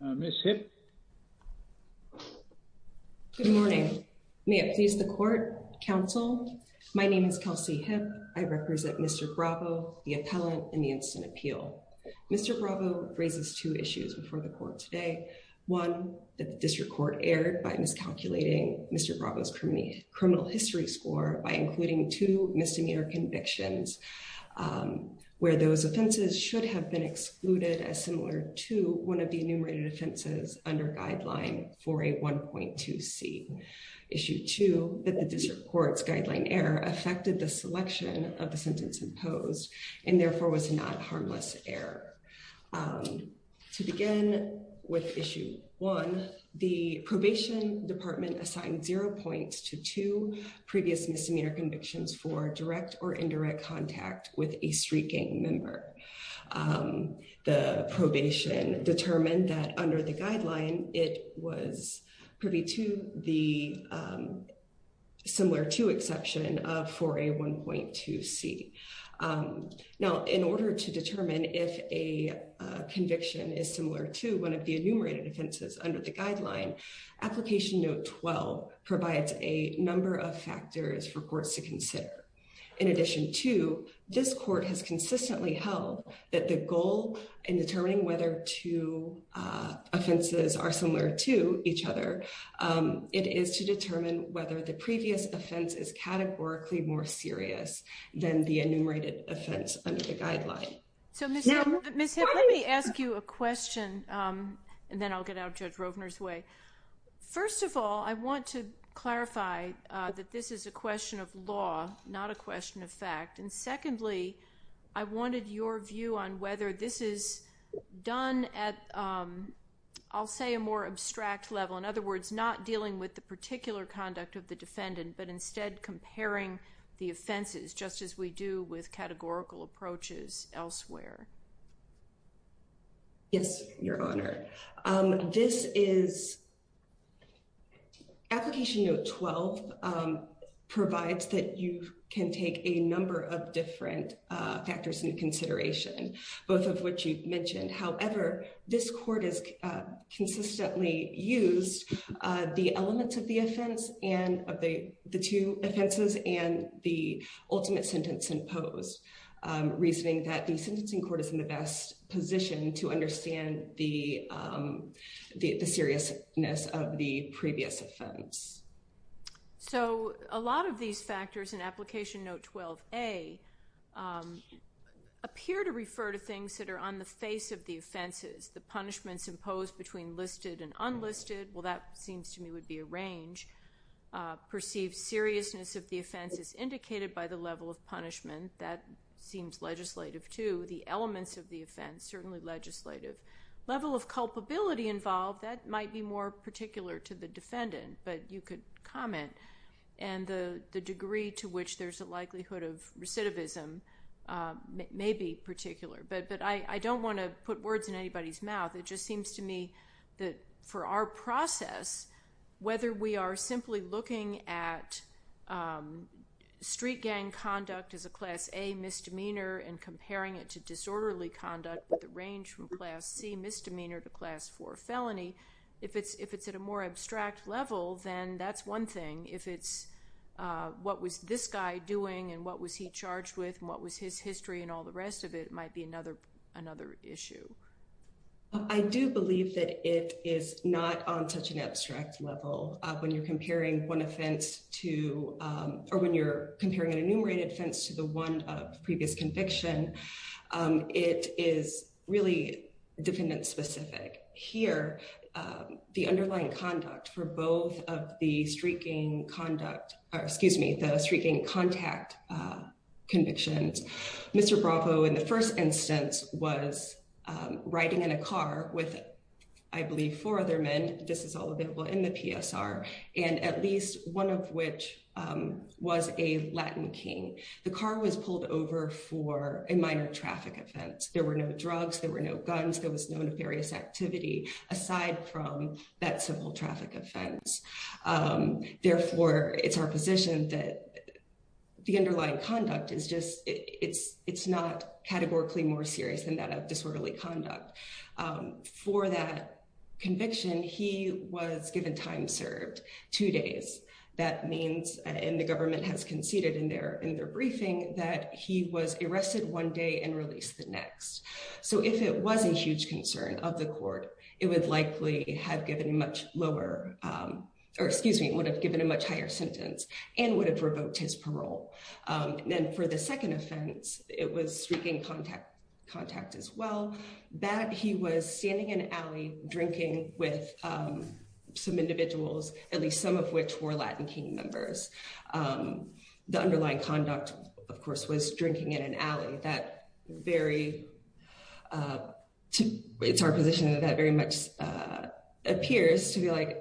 Ms. Hipp. Good morning. May it please the court, counsel. My name is Kelsey Hipp. I represent Mr. Bravo, the appellant in the Instant Appeal. Mr. Bravo raises two issues before the court today. One, that the district court erred by miscalculating Mr. Bravo's criminal history score by including two misdemeanor convictions, where those offenses should have been excluded as similar to one of the enumerated offenses under guideline for a 1.2c. Issue two, that the district court's guideline error affected the selection of the sentence imposed and therefore was not harmless error. To begin with issue one, the probation department assigned zero points to two previous misdemeanor convictions for direct or indirect contact with a street gang member. The probation determined that under the guideline, it was privy to the similar to exception for a 1.2c. Now, in order to determine if a conviction is similar to one of the enumerated offenses under the guideline, application note 12 provides a number of factors for courts to consider. In addition to, this court has consistently held that the goal in determining whether two offenses are similar to each other, it is to determine whether the previous offense is categorically more serious than the enumerated offense under the guideline. So Ms. Hip, let me ask you a question and then I'll get out Judge Rovner's way. First of all, I want to clarify that this is a question of law, not a question of fact. And secondly, I wanted your view on whether this is done at, I'll say, a more abstract level. In other words, not dealing with the particular conduct of the defendant, but instead comparing the offenses just as we do with categorical approaches elsewhere. Yes, Your Honor. This is, application note 12 provides that you can take a number of different factors into consideration, both of which you've mentioned. However, this court has consistently used the elements of the offense and of the two offenses and the ultimate sentence in post, reasoning that the sentencing court is in the best position to understand the seriousness of the previous offense. So, a lot of these factors in application note 12A appear to refer to things that are on the face of the offenses. The punishments imposed between listed and unlisted, well, that seems to me would be a range. Perceived seriousness of the offense is indicated by the level of punishment. That seems legislative, too. The elements of the offense, certainly legislative. Level of culpability involved, that might be more particular to the defendant, but you could comment. And the degree to which there's a likelihood of recidivism may be particular, but I don't want to put words in anybody's mouth. It just seems to me that for our process, whether we are simply looking at street gang conduct as a Class A misdemeanor and comparing it to disorderly conduct with a range from Class C misdemeanor to Class 4 felony, if it's at a more abstract level, then that's one thing. If it's what was this guy doing and what was he charged with and what was his history and all the rest of it might be another issue. I do believe that it is not on such an abstract level. When you're comparing one offense to or when you're comparing an enumerated offense to the one of previous conviction, it is really defendant specific. Here, the underlying conduct for both of the street gang conduct, excuse me, the street gang contact convictions. Mr. Bravo, in the first instance, was riding in a car with, I believe, four other men, this is all available in the PSR, and at least one of which was a Latin King. The car was pulled over for a minor traffic offense. There were no drugs, there were no guns, there was no nefarious activity aside from that simple traffic offense. Therefore, it's our position that the underlying conduct is just, it's not categorically more serious than that of disorderly conduct. For that conviction, he was given time served, two days. That means, and the government has conceded in their briefing, that he was arrested one day and released the next. So if it was a huge concern of the court, it would likely have given a much lower, or excuse me, would have given a much higher sentence and would have revoked his parole. Then for the second offense, it was street gang contact as well, that he was standing in an alley drinking with some individuals, at least some of which were Latin King members. The underlying conduct, of course, was drinking in an alley. That very, it's our position that that very much appears to be like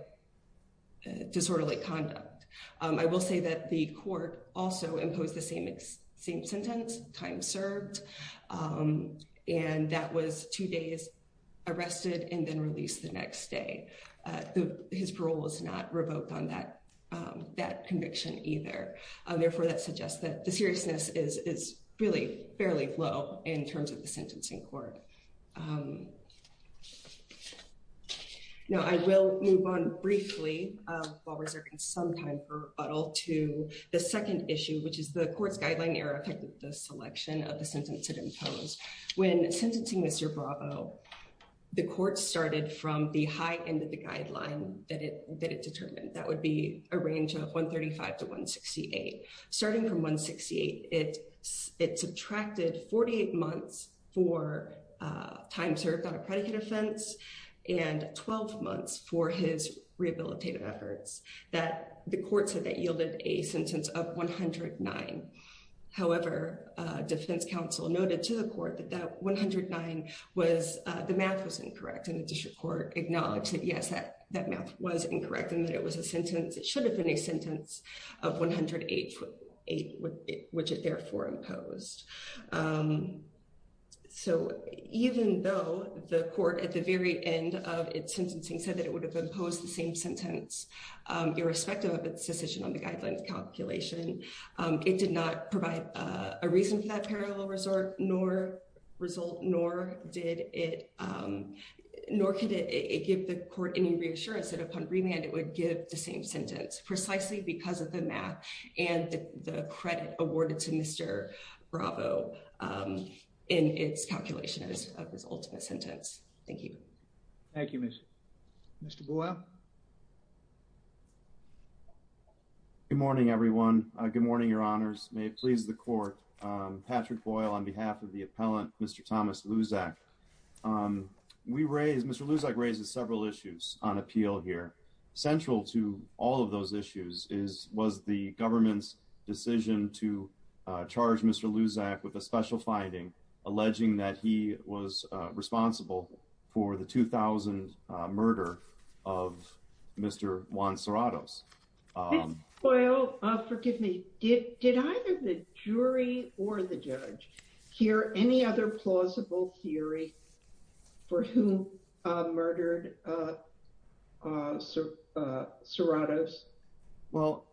disorderly conduct. I will say that the court also imposed the same sentence, time served, and that was two days arrested and then released the next day. His parole was not revoked on that conviction either. Therefore, that suggests that the seriousness is really fairly low in terms of the sentencing court. Now, I will move on briefly, while reserving some time for Buttle, to the second issue, which is the court's guideline error affected the selection of the sentence it imposed. When sentencing Mr. Bravo, the court started from the high end of the guideline that it determined. That would be a range of 135 to 168. Starting from 168, it subtracted 48 months for time served on a predicate offense and 12 months for his rehabilitative efforts. The court said that yielded a sentence of 109. However, defense counsel noted to the court that that 109 was, the math was incorrect and the district court acknowledged that yes, that math was incorrect and that it was a sentence, it should have been a sentence of 108, which it therefore imposed. So, even though the court at the very end of its sentencing said that it would have imposed the same sentence, irrespective of its decision on the guidelines calculation. It did not provide a reason for that parallel result, nor result, nor did it, nor could it give the court any reassurance that upon remand, it would give the same sentence precisely because of the math and the credit awarded to Mr. Bravo in its calculation of his ultimate sentence. Thank you. Thank you, Miss. Mr. Boyle. Good morning, everyone. Good morning, Your Honors. May it please the court. Patrick Boyle on behalf of the appellant, Mr. Thomas Luzak. We raise, Mr. Luzak raises several issues on appeal here. Central to all of those issues is was the government's decision to charge Mr. Luzak with a special finding, alleging that he was responsible for the 2000 murder of Mr. Juan Serratos. Well, forgive me. Did either the jury or the judge hear any other plausible theory for who murdered Serratos? Well,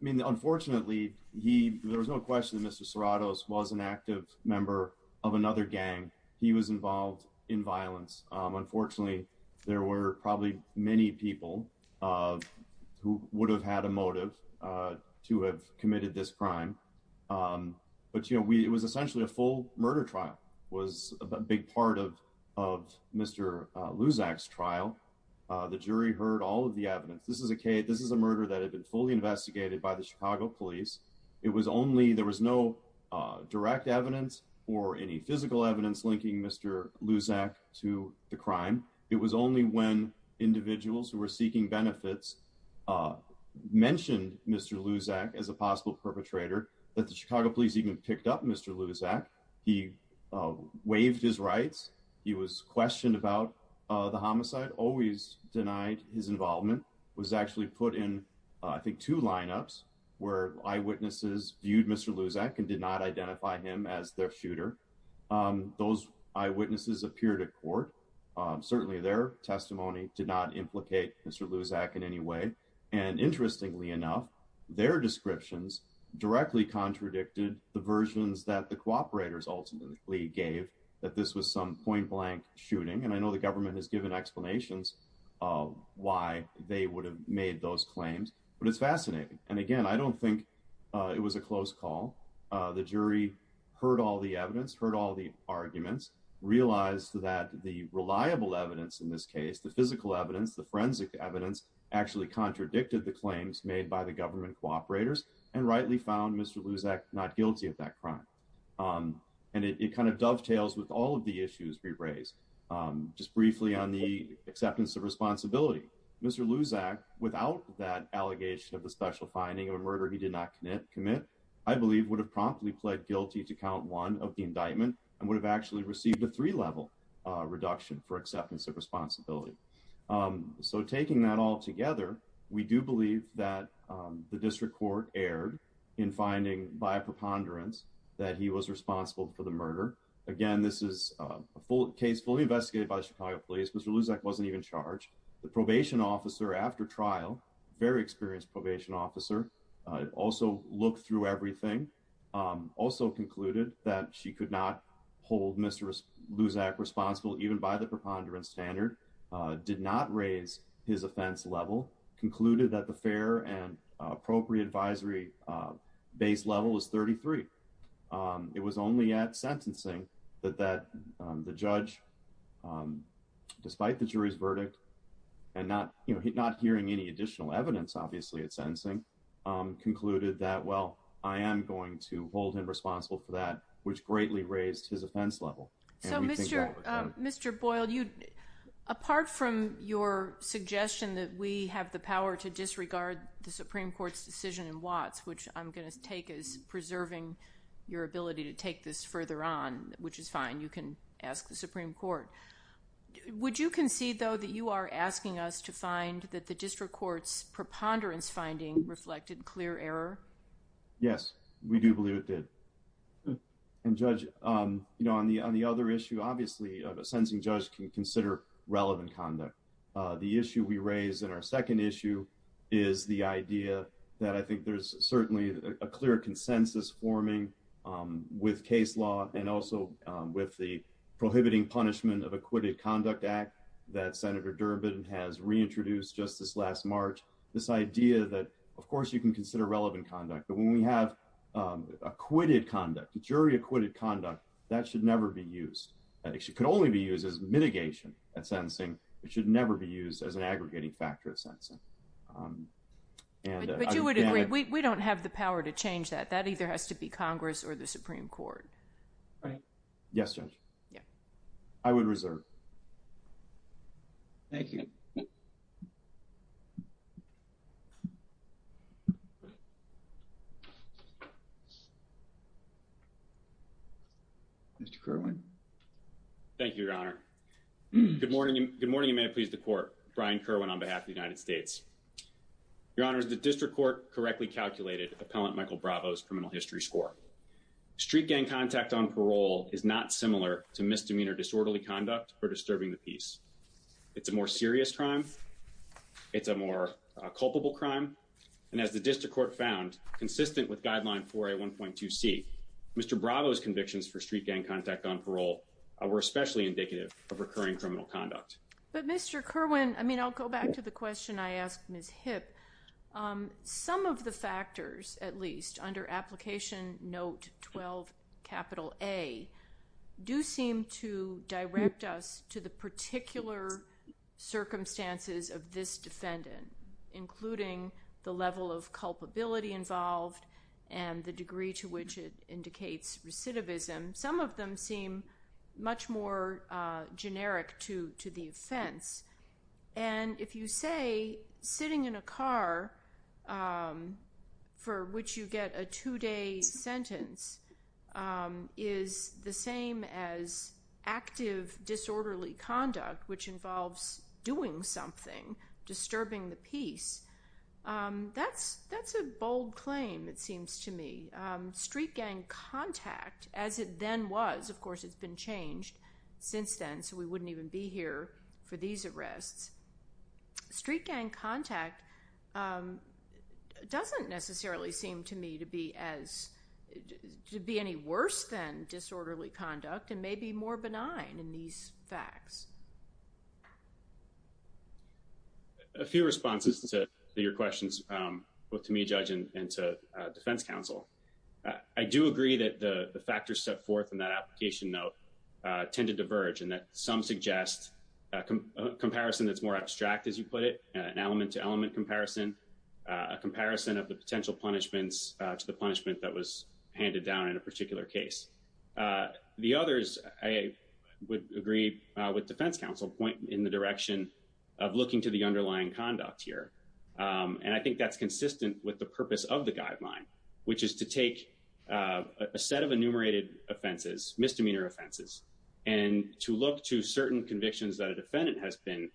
I mean, unfortunately, there was no question that Mr. Serratos was an active member of another gang. He was involved in violence. Unfortunately, there were probably many people who would have had a motive to have committed this crime. But, you know, we it was essentially a full murder trial was a big part of of Mr. Luzak's trial. The jury heard all of the evidence. This is a case. This is a murder that had been fully investigated by the Chicago police. It was only there was no direct evidence or any physical evidence linking Mr. Luzak to the crime. It was only when individuals who were seeking benefits mentioned Mr. Luzak as a possible perpetrator that the Chicago police even picked up Mr. Luzak. He waived his rights. He was questioned about the homicide. Always denied his involvement. Was actually put in, I think, two lineups where eyewitnesses viewed Mr. Luzak and did not identify him as their shooter. Those eyewitnesses appeared at court. Certainly their testimony did not implicate Mr. Luzak in any way. And interestingly enough, their descriptions directly contradicted the versions that the cooperators ultimately gave that this was some point blank shooting. And I know the government has given explanations why they would have made those claims. But it's fascinating. And again, I don't think it was a close call. The jury heard all the evidence. Heard all the arguments. Realized that the reliable evidence in this case, the physical evidence, the forensic evidence, actually contradicted the claims made by the government cooperators and rightly found Mr. Luzak not guilty of that crime. And it kind of dovetails with all of the issues we raised. Just briefly on the acceptance of responsibility. Mr. Luzak, without that allegation of the special finding of a murder he did not commit, I believe would have promptly pled guilty to count one of the indictment and would have actually received a three-level reduction for acceptance of responsibility. So taking that all together, we do believe that the district court erred in finding by a preponderance that he was responsible for the murder. Again, this is a case fully investigated by the Chicago police. Mr. Luzak wasn't even charged. The probation officer after trial, very experienced probation officer, also looked through everything. Also concluded that she could not hold Mr. Luzak responsible even by the preponderance standard. Did not raise his offense level. Concluded that the fair and appropriate advisory base level was 33. It was only at sentencing that the judge, despite the jury's verdict and not hearing any additional evidence obviously at sentencing, concluded that, well, I am going to hold him responsible for that, which greatly raised his offense level. So Mr. Boyle, apart from your suggestion that we have the power to disregard the Supreme Court's decision in Watts, which I'm going to take as preserving your ability to take this further on, which is fine, you can ask the Supreme Court. Would you concede, though, that you are asking us to find that the district court's preponderance finding reflected clear error? Yes, we do believe it did. And Judge, on the other issue, obviously, a sentencing judge can consider relevant conduct. The issue we raise in our second issue is the idea that I think there's certainly a clear consensus forming with case law and also with the prohibiting punishment of acquitted conduct act that Senator Durbin has reintroduced just this last March. This idea that, of course, you can consider relevant conduct, but when we have acquitted conduct, jury acquitted conduct, that should never be used. It could only be used as mitigation at sentencing. It should never be used as an aggregating factor at sentencing. But you would agree, we don't have the power to change that. That either has to be Congress or the Supreme Court. Yes, Judge. I would reserve. Thank you. Mr. Kerwin. Thank you, Your Honor. Good morning. Good morning. May it please the court. Brian Kerwin on behalf of the United States. Your Honor, the district court correctly calculated appellant Michael Bravo's criminal history score. Street gang contact on parole is not similar to misdemeanor disorderly conduct or disturbing the peace. It's a more serious crime. It's a more culpable crime. And as the district court found consistent with guideline for a 1.2 C. Mr. Bravo's convictions for street gang contact on parole were especially indicative of recurring criminal conduct. But Mr. Kerwin, I mean, I'll go back to the question. I asked Ms. Hipp, some of the factors, at least, under application note 12 capital A, do seem to direct us to the particular circumstances of this defendant, including the level of culpability involved and the degree to which it indicates recidivism. Some of them seem much more generic to the offense. And if you say sitting in a car for which you get a two-day sentence is the same as active disorderly conduct, which involves doing something, disturbing the peace, that's a bold claim, it seems to me. Street gang contact, as it then was, of course it's been changed since then, so we wouldn't even be here for these arrests. Street gang contact doesn't necessarily seem to me to be any worse than disorderly conduct and may be more benign in these facts. A few responses to your questions, both to me, Judge, and to defense counsel. I do agree that the factors set forth in that application note tend to diverge and that some suggest a comparison that's more abstract, as you put it, an element-to-element comparison, a comparison of the potential punishments to the punishment that was handed down in a particular case. The others, I would agree with defense counsel, point in the direction of looking to the underlying conduct here. And I think that's consistent with the purpose of the guideline, which is to take a set of enumerated offenses, misdemeanor offenses, and to look to certain convictions that a defendant has been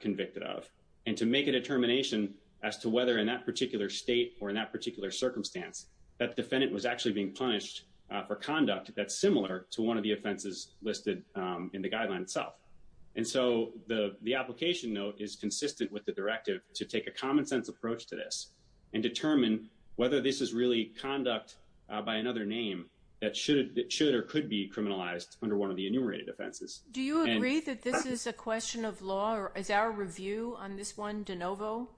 convicted of and to make a determination as to whether in that particular state or in that particular circumstance that defendant was actually being punished for conduct that's similar to one of the offenses listed in the guideline itself. And so the application note is consistent with the directive to take a common-sense approach to this and determine whether this is really conduct by another name that should or could be criminalized under one of the enumerated offenses. Do you agree that this is a question of law, or is our review on this one de novo?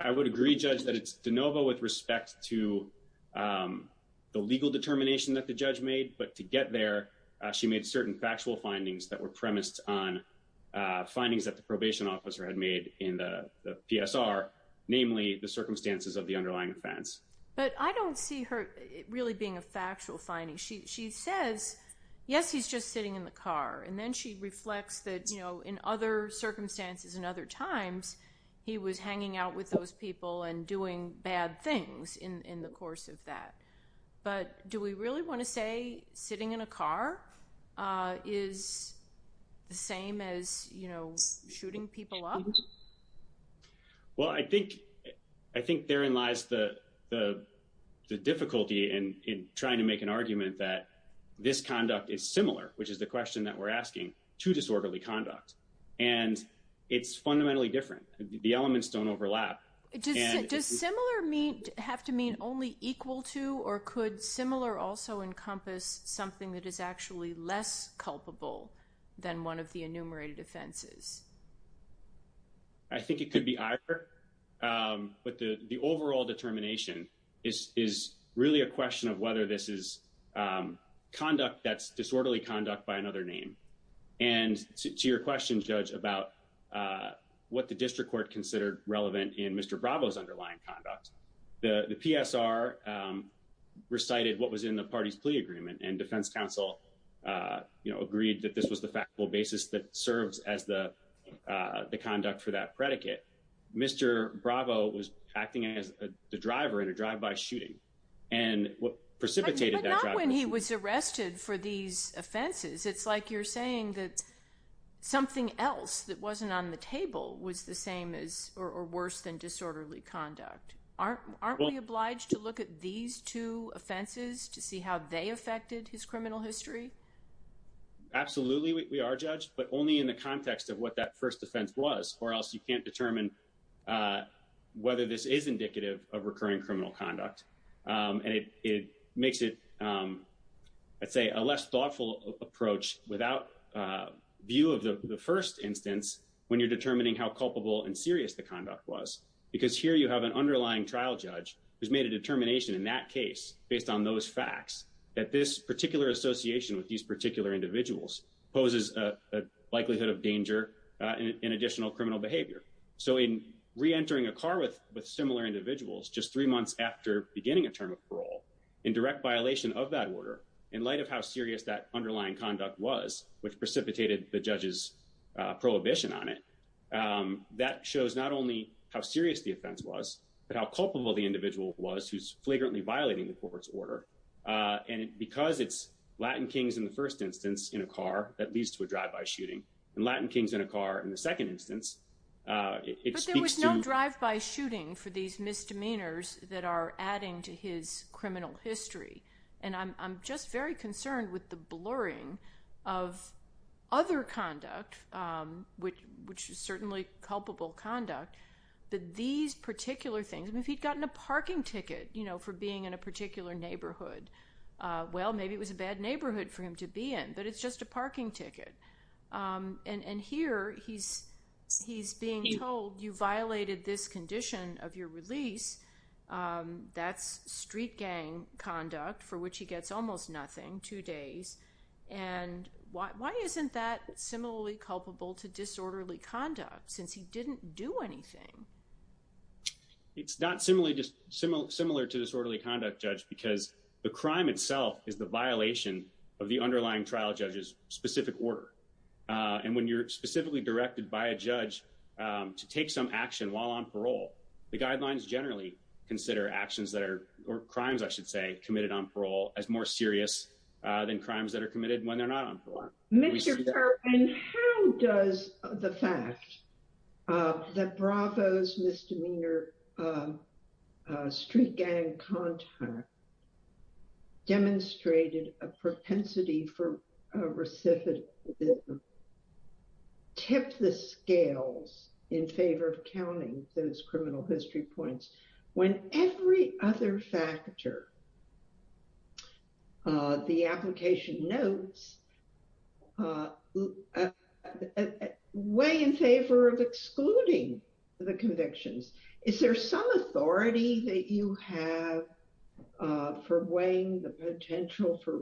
I would agree, Judge, that it's de novo with respect to the legal determination that the judge made, but to get there, she made certain factual findings that were premised on findings that the probation officer had made in the PSR, namely the circumstances of the underlying offense. But I don't see her really being a factual finding. She says, yes, he's just sitting in the car, and then she reflects that, you know, in other circumstances and other times, he was hanging out with those people and doing bad things in the course of that. But do we really want to say sitting in a car is the same as, you know, shooting people up? Well, I think therein lies the difficulty in trying to make an argument that this conduct is similar, which is the question that we're asking, to disorderly conduct. And it's fundamentally different. The elements don't overlap. Does similar have to mean only equal to, or could similar also encompass something that is actually less culpable than one of the enumerated offenses? I think it could be either. But the overall determination is really a question of whether this is conduct that's disorderly conduct by another name. And to your question, Judge, about what the district court considered relevant in Mr. Bravo's underlying conduct, the PSR recited what was in the party's plea agreement and defense counsel, you know, agreed that this was the factual basis that serves as the conduct for that predicate. Mr. Bravo was acting as the driver in a drive-by shooting and precipitated that. When he was arrested for these offenses, it's like you're saying that something else that wasn't on the table was the same as or worse than disorderly conduct. Aren't we obliged to look at these two offenses to see how they affected his criminal history? Absolutely, we are, Judge, but only in the context of what that first offense was, or else you can't determine whether this is indicative of recurring criminal conduct. And it makes it, I'd say, a less thoughtful approach without view of the first instance when you're determining how culpable and serious the conduct was, because here you have an underlying trial judge who's made a determination in that case, based on those facts, that this particular association with these particular individuals poses a likelihood of danger and additional criminal behavior. So in reentering a car with similar individuals just three months after beginning a term of parole, in direct violation of that order, in light of how serious that underlying conduct was, which precipitated the judge's prohibition on it, that shows not only how serious the offense was, but how culpable the individual was who's flagrantly violating the court's order. And because it's Latin kings in the first instance in a car that leads to a drive-by shooting, and Latin kings in a car in the second instance, it speaks to— But there was no drive-by shooting for these misdemeanors that are adding to his criminal history. And I'm just very concerned with the blurring of other conduct, which is certainly culpable conduct, that these particular things—if he'd gotten a parking ticket for being in a particular neighborhood, well, maybe it was a bad neighborhood for him to be in, but it's just a parking ticket. And here he's being told, you violated this condition of your release. That's street gang conduct, for which he gets almost nothing, two days. And why isn't that similarly culpable to disorderly conduct, since he didn't do anything? It's not similar to disorderly conduct, Judge, because the crime itself is the violation of the underlying trial judge's specific order. And when you're specifically directed by a judge to take some action while on parole, the guidelines generally consider actions that are—or crimes, I should say— committed on parole as more serious than crimes that are committed when they're not on parole. And how does the fact that Bravo's misdemeanor street gang conduct demonstrated a propensity for recidivism tip the scales in favor of counting those criminal history points, when every other factor the application notes weigh in favor of excluding the convictions? Is there some authority that you have for weighing the potential for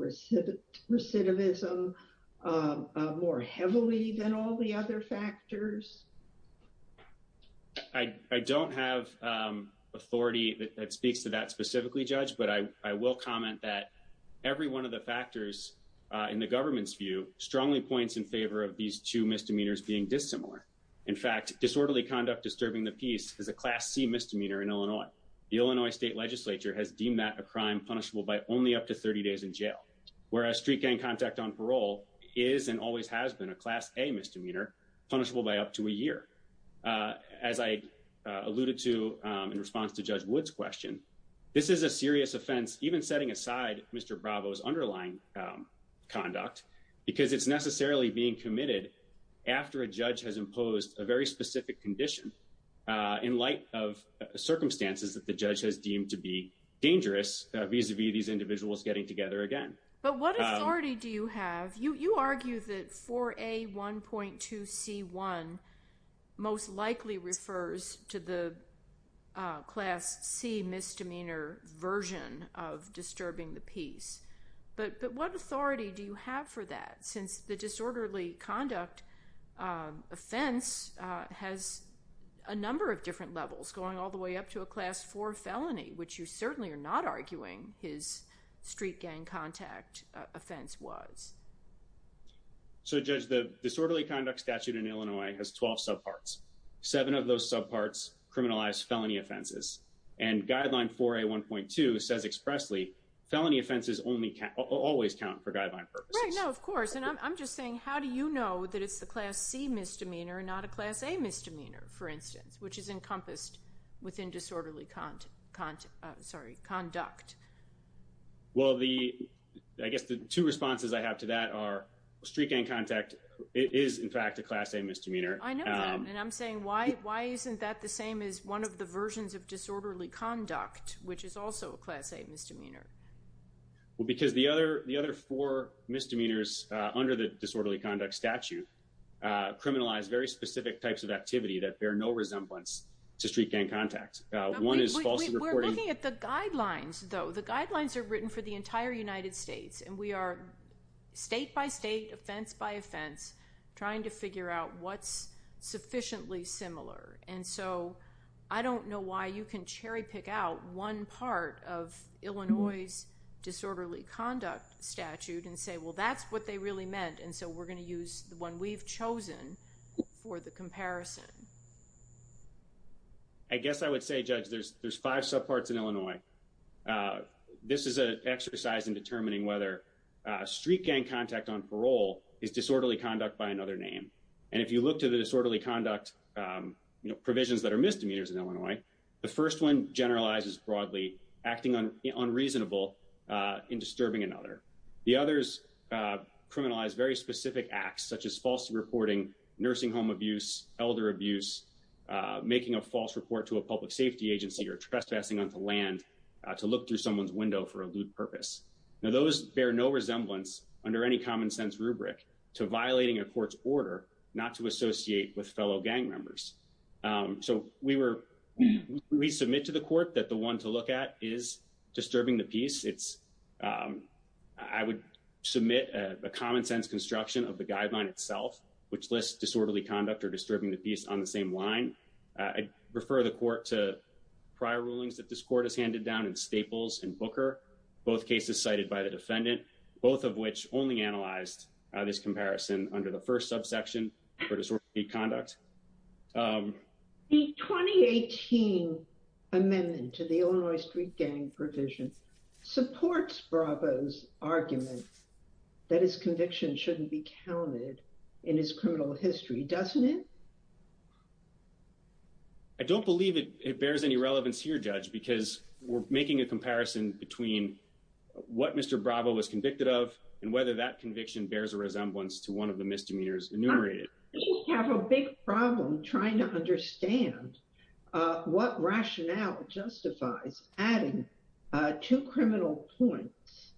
recidivism more heavily than all the other factors? I don't have authority that speaks to that specifically, Judge, but I will comment that every one of the factors in the government's view strongly points in favor of these two misdemeanors being dissimilar. In fact, disorderly conduct disturbing the peace is a Class C misdemeanor in Illinois. The Illinois state legislature has deemed that a crime punishable by only up to 30 days in jail, whereas street gang contact on parole is and always has been a Class A misdemeanor punishable by up to a year. As I alluded to in response to Judge Wood's question, this is a serious offense, even setting aside Mr. Bravo's underlying conduct, because it's necessarily being committed after a judge has imposed a very specific condition in light of circumstances that the judge has deemed to be dangerous vis-à-vis these individuals getting together again. But what authority do you have? You argue that 4A1.2C1 most likely refers to the Class C misdemeanor version of disturbing the peace. But what authority do you have for that, since the disorderly conduct offense has a number of different levels, going all the way up to a Class 4 felony, which you certainly are not arguing his street gang contact offense was? So, Judge, the disorderly conduct statute in Illinois has 12 subparts. Seven of those subparts criminalize felony offenses. And Guideline 4A1.2 says expressly felony offenses always count for guideline purposes. No, of course. And I'm just saying, how do you know that it's the Class C misdemeanor and not a Class A misdemeanor, for instance, which is encompassed within disorderly conduct? Well, I guess the two responses I have to that are street gang contact is, in fact, a Class A misdemeanor. I know that. And I'm saying, why isn't that the same as one of the versions of disorderly conduct, which is also a Class A misdemeanor? Well, because the other four misdemeanors under the disorderly conduct statute criminalize very specific types of activity that bear no resemblance to street gang contact. We're looking at the guidelines, though. The guidelines are written for the entire United States. And we are state by state, offense by offense, trying to figure out what's sufficiently similar. And so I don't know why you can cherry pick out one part of Illinois' disorderly conduct statute and say, well, that's what they really meant. And so we're going to use the one we've chosen for the comparison. I guess I would say, Judge, there's five subparts in Illinois. This is an exercise in determining whether street gang contact on parole is disorderly conduct by another name. And if you look to the disorderly conduct provisions that are misdemeanors in Illinois, the first one generalizes broadly acting unreasonable in disturbing another. The others criminalize very specific acts such as false reporting, nursing home abuse, elder abuse, making a false report to a public safety agency or trespassing onto land to look through someone's window for a lewd purpose. Now, those bear no resemblance under any common sense rubric to violating a court's order not to associate with fellow gang members. So we were we submit to the court that the one to look at is disturbing the peace. It's I would submit a common sense construction of the guideline itself, which lists disorderly conduct or disturbing the peace on the same line. I refer the court to prior rulings that this court has handed down in Staples and Booker, both cases cited by the defendant, both of which only analyzed this comparison under the first subsection for disorderly conduct. The 2018 amendment to the Illinois street gang provisions supports Bravo's argument that his conviction shouldn't be counted in his criminal history, doesn't it? I don't believe it bears any relevance here, Judge, because we're making a comparison between what Mr. Bravo was convicted of and whether that conviction bears a resemblance to one of the misdemeanors enumerated. We have a big problem trying to understand what rationale justifies adding two criminal points,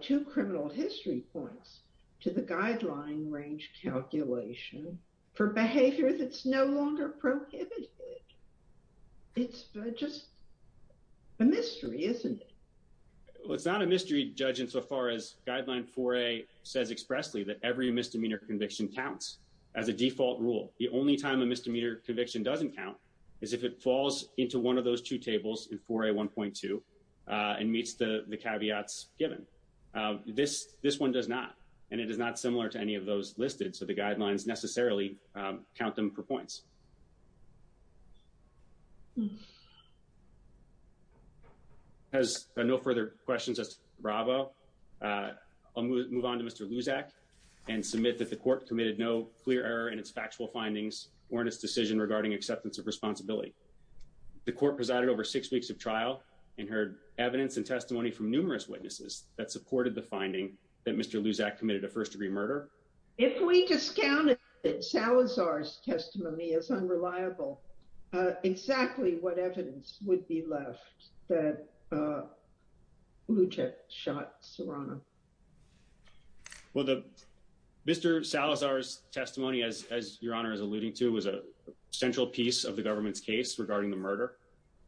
two criminal history points to the guideline range calculation for behavior that's no longer prohibited. It's just a mystery, isn't it? It's not a mystery, Judge, insofar as guideline for a says expressly that every misdemeanor conviction counts as a default rule. The only time a misdemeanor conviction doesn't count is if it falls into one of those two tables in for a one point two and meets the caveats given this. This one does not. And it is not similar to any of those listed. So the guidelines necessarily count them for points. Has no further questions. Bravo. I'll move on to Mr. Luzak and submit that the court committed no clear error in its factual findings or in its decision regarding acceptance of responsibility. The court presided over six weeks of trial and heard evidence and testimony from numerous witnesses that supported the finding that Mr. Luzak committed a first degree murder. If we discounted Salazar's testimony is unreliable. Exactly what evidence would be left? The evidence that Luzak shot Serrano. Well, the Mr. Salazar's testimony, as your honor is alluding to, was a central piece of the government's case regarding the murder.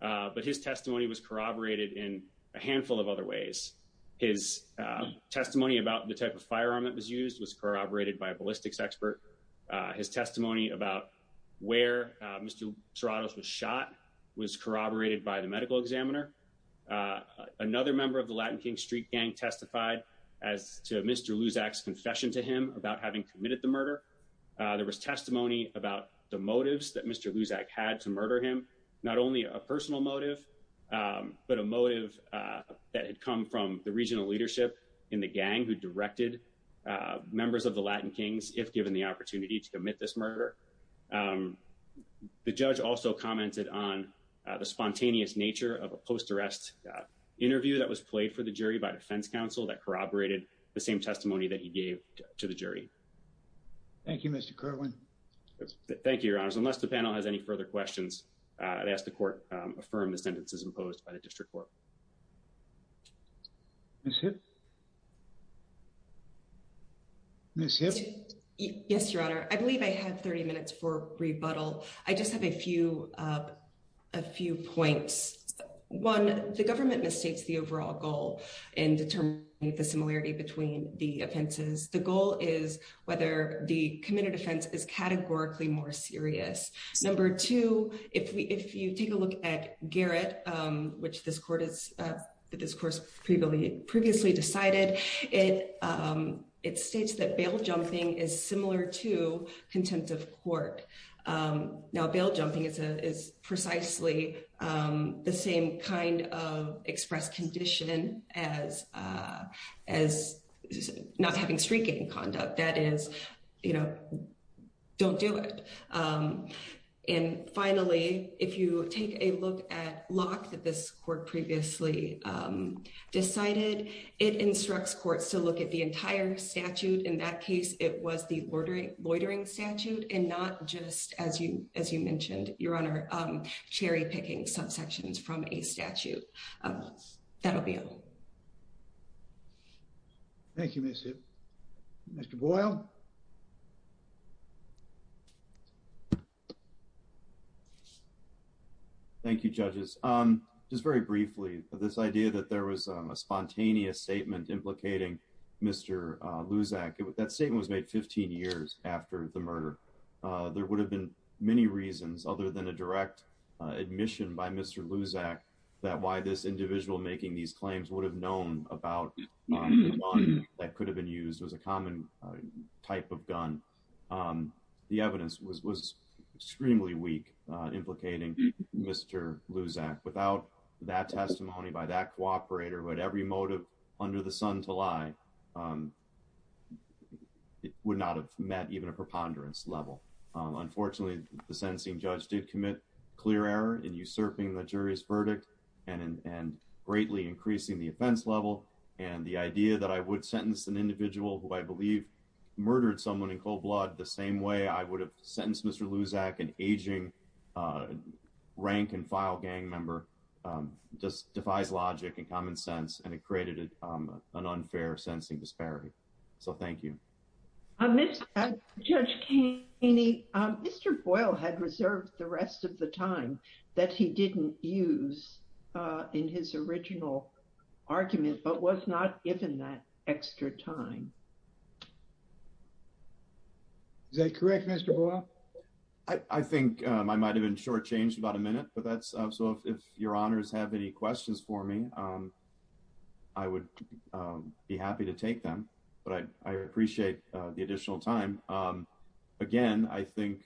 But his testimony was corroborated in a handful of other ways. His testimony about the type of firearm that was used was corroborated by a ballistics expert. His testimony about where Mr. Serrano was shot was corroborated by the medical examiner. Another member of the Latin King Street gang testified as to Mr. Luzak's confession to him about having committed the murder. There was testimony about the motives that Mr. Luzak had to murder him. Not only a personal motive, but a motive that had come from the regional leadership in the gang who directed members of the Latin Kings, if given the opportunity to commit this murder. The judge also commented on the spontaneous nature of a post-arrest interview that was played for the jury by defense counsel that corroborated the same testimony that he gave to the jury. Thank you, Mr. Kerwin. Thank you, your honors. Unless the panel has any further questions, I'd ask the court affirm the sentences imposed by the district court. Ms. Hitt? Ms. Hitt? Yes, your honor. I believe I have 30 minutes for rebuttal. I just have a few points. One, the government mistakes the overall goal in determining the similarity between the offenses. The goal is whether the committed offense is categorically more serious. Number two, if you take a look at Garrett, which this court previously decided, it states that bail jumping is similar to contempt of court. Now, bail jumping is precisely the same kind of expressed condition as not having street gang conduct. That is, you know, don't do it. And finally, if you take a look at Locke that this court previously decided, it instructs courts to look at the entire statute. In that case, it was the loitering statute and not just, as you mentioned, your honor, cherry-picking subsections from a statute. That'll be all. Thank you, Ms. Hitt. Mr. Boyle? Thank you, judges. Just very briefly, this idea that there was a spontaneous statement implicating Mr. Luzak, that statement was made 15 years after the murder. There would have been many reasons other than a direct admission by Mr. Luzak that why this individual making these claims would have known about the gun that could have been used. The evidence was extremely weak implicating Mr. Luzak. Without that testimony by that cooperator who had every motive under the sun to lie, it would not have met even a preponderance level. Unfortunately, the sentencing judge did commit clear error in usurping the jury's verdict and greatly increasing the offense level. And the idea that I would sentence an individual who I believe murdered someone in cold blood the same way I would have sentenced Mr. Luzak, an aging rank and file gang member, just defies logic and common sense. And it created an unfair sentencing disparity. So, thank you. Judge Keeney, Mr. Boyle had reserved the rest of the time that he didn't use in his original argument but was not given that extra time. Is that correct, Mr. Boyle? I think I might have been shortchanged about a minute. So, if your honors have any questions for me, I would be happy to take them. But I appreciate the additional time. Again, I think,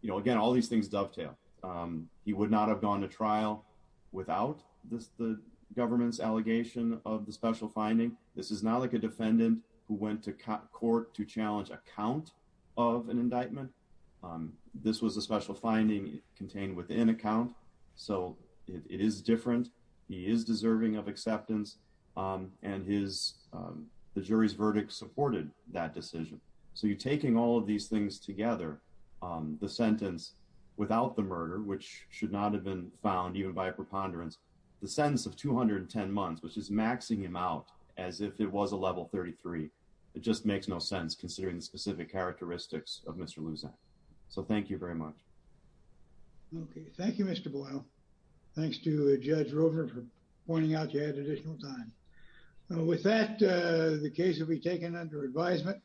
you know, again, all these things dovetail. He would not have gone to trial without the government's allegation of the special finding. This is not like a defendant who went to court to challenge a count of an indictment. This was a special finding contained within a count. So, it is different. He is deserving of acceptance. And the jury's verdict supported that decision. So, you're taking all of these things together. The sentence without the murder, which should not have been found even by a preponderance. The sentence of 210 months, which is maxing him out as if it was a level 33. It just makes no sense considering the specific characteristics of Mr. Luzak. So, thank you very much. Okay. Thank you, Mr. Boyle. Thanks to Judge Roper for pointing out you had additional time. With that, the case will be taken under advisement.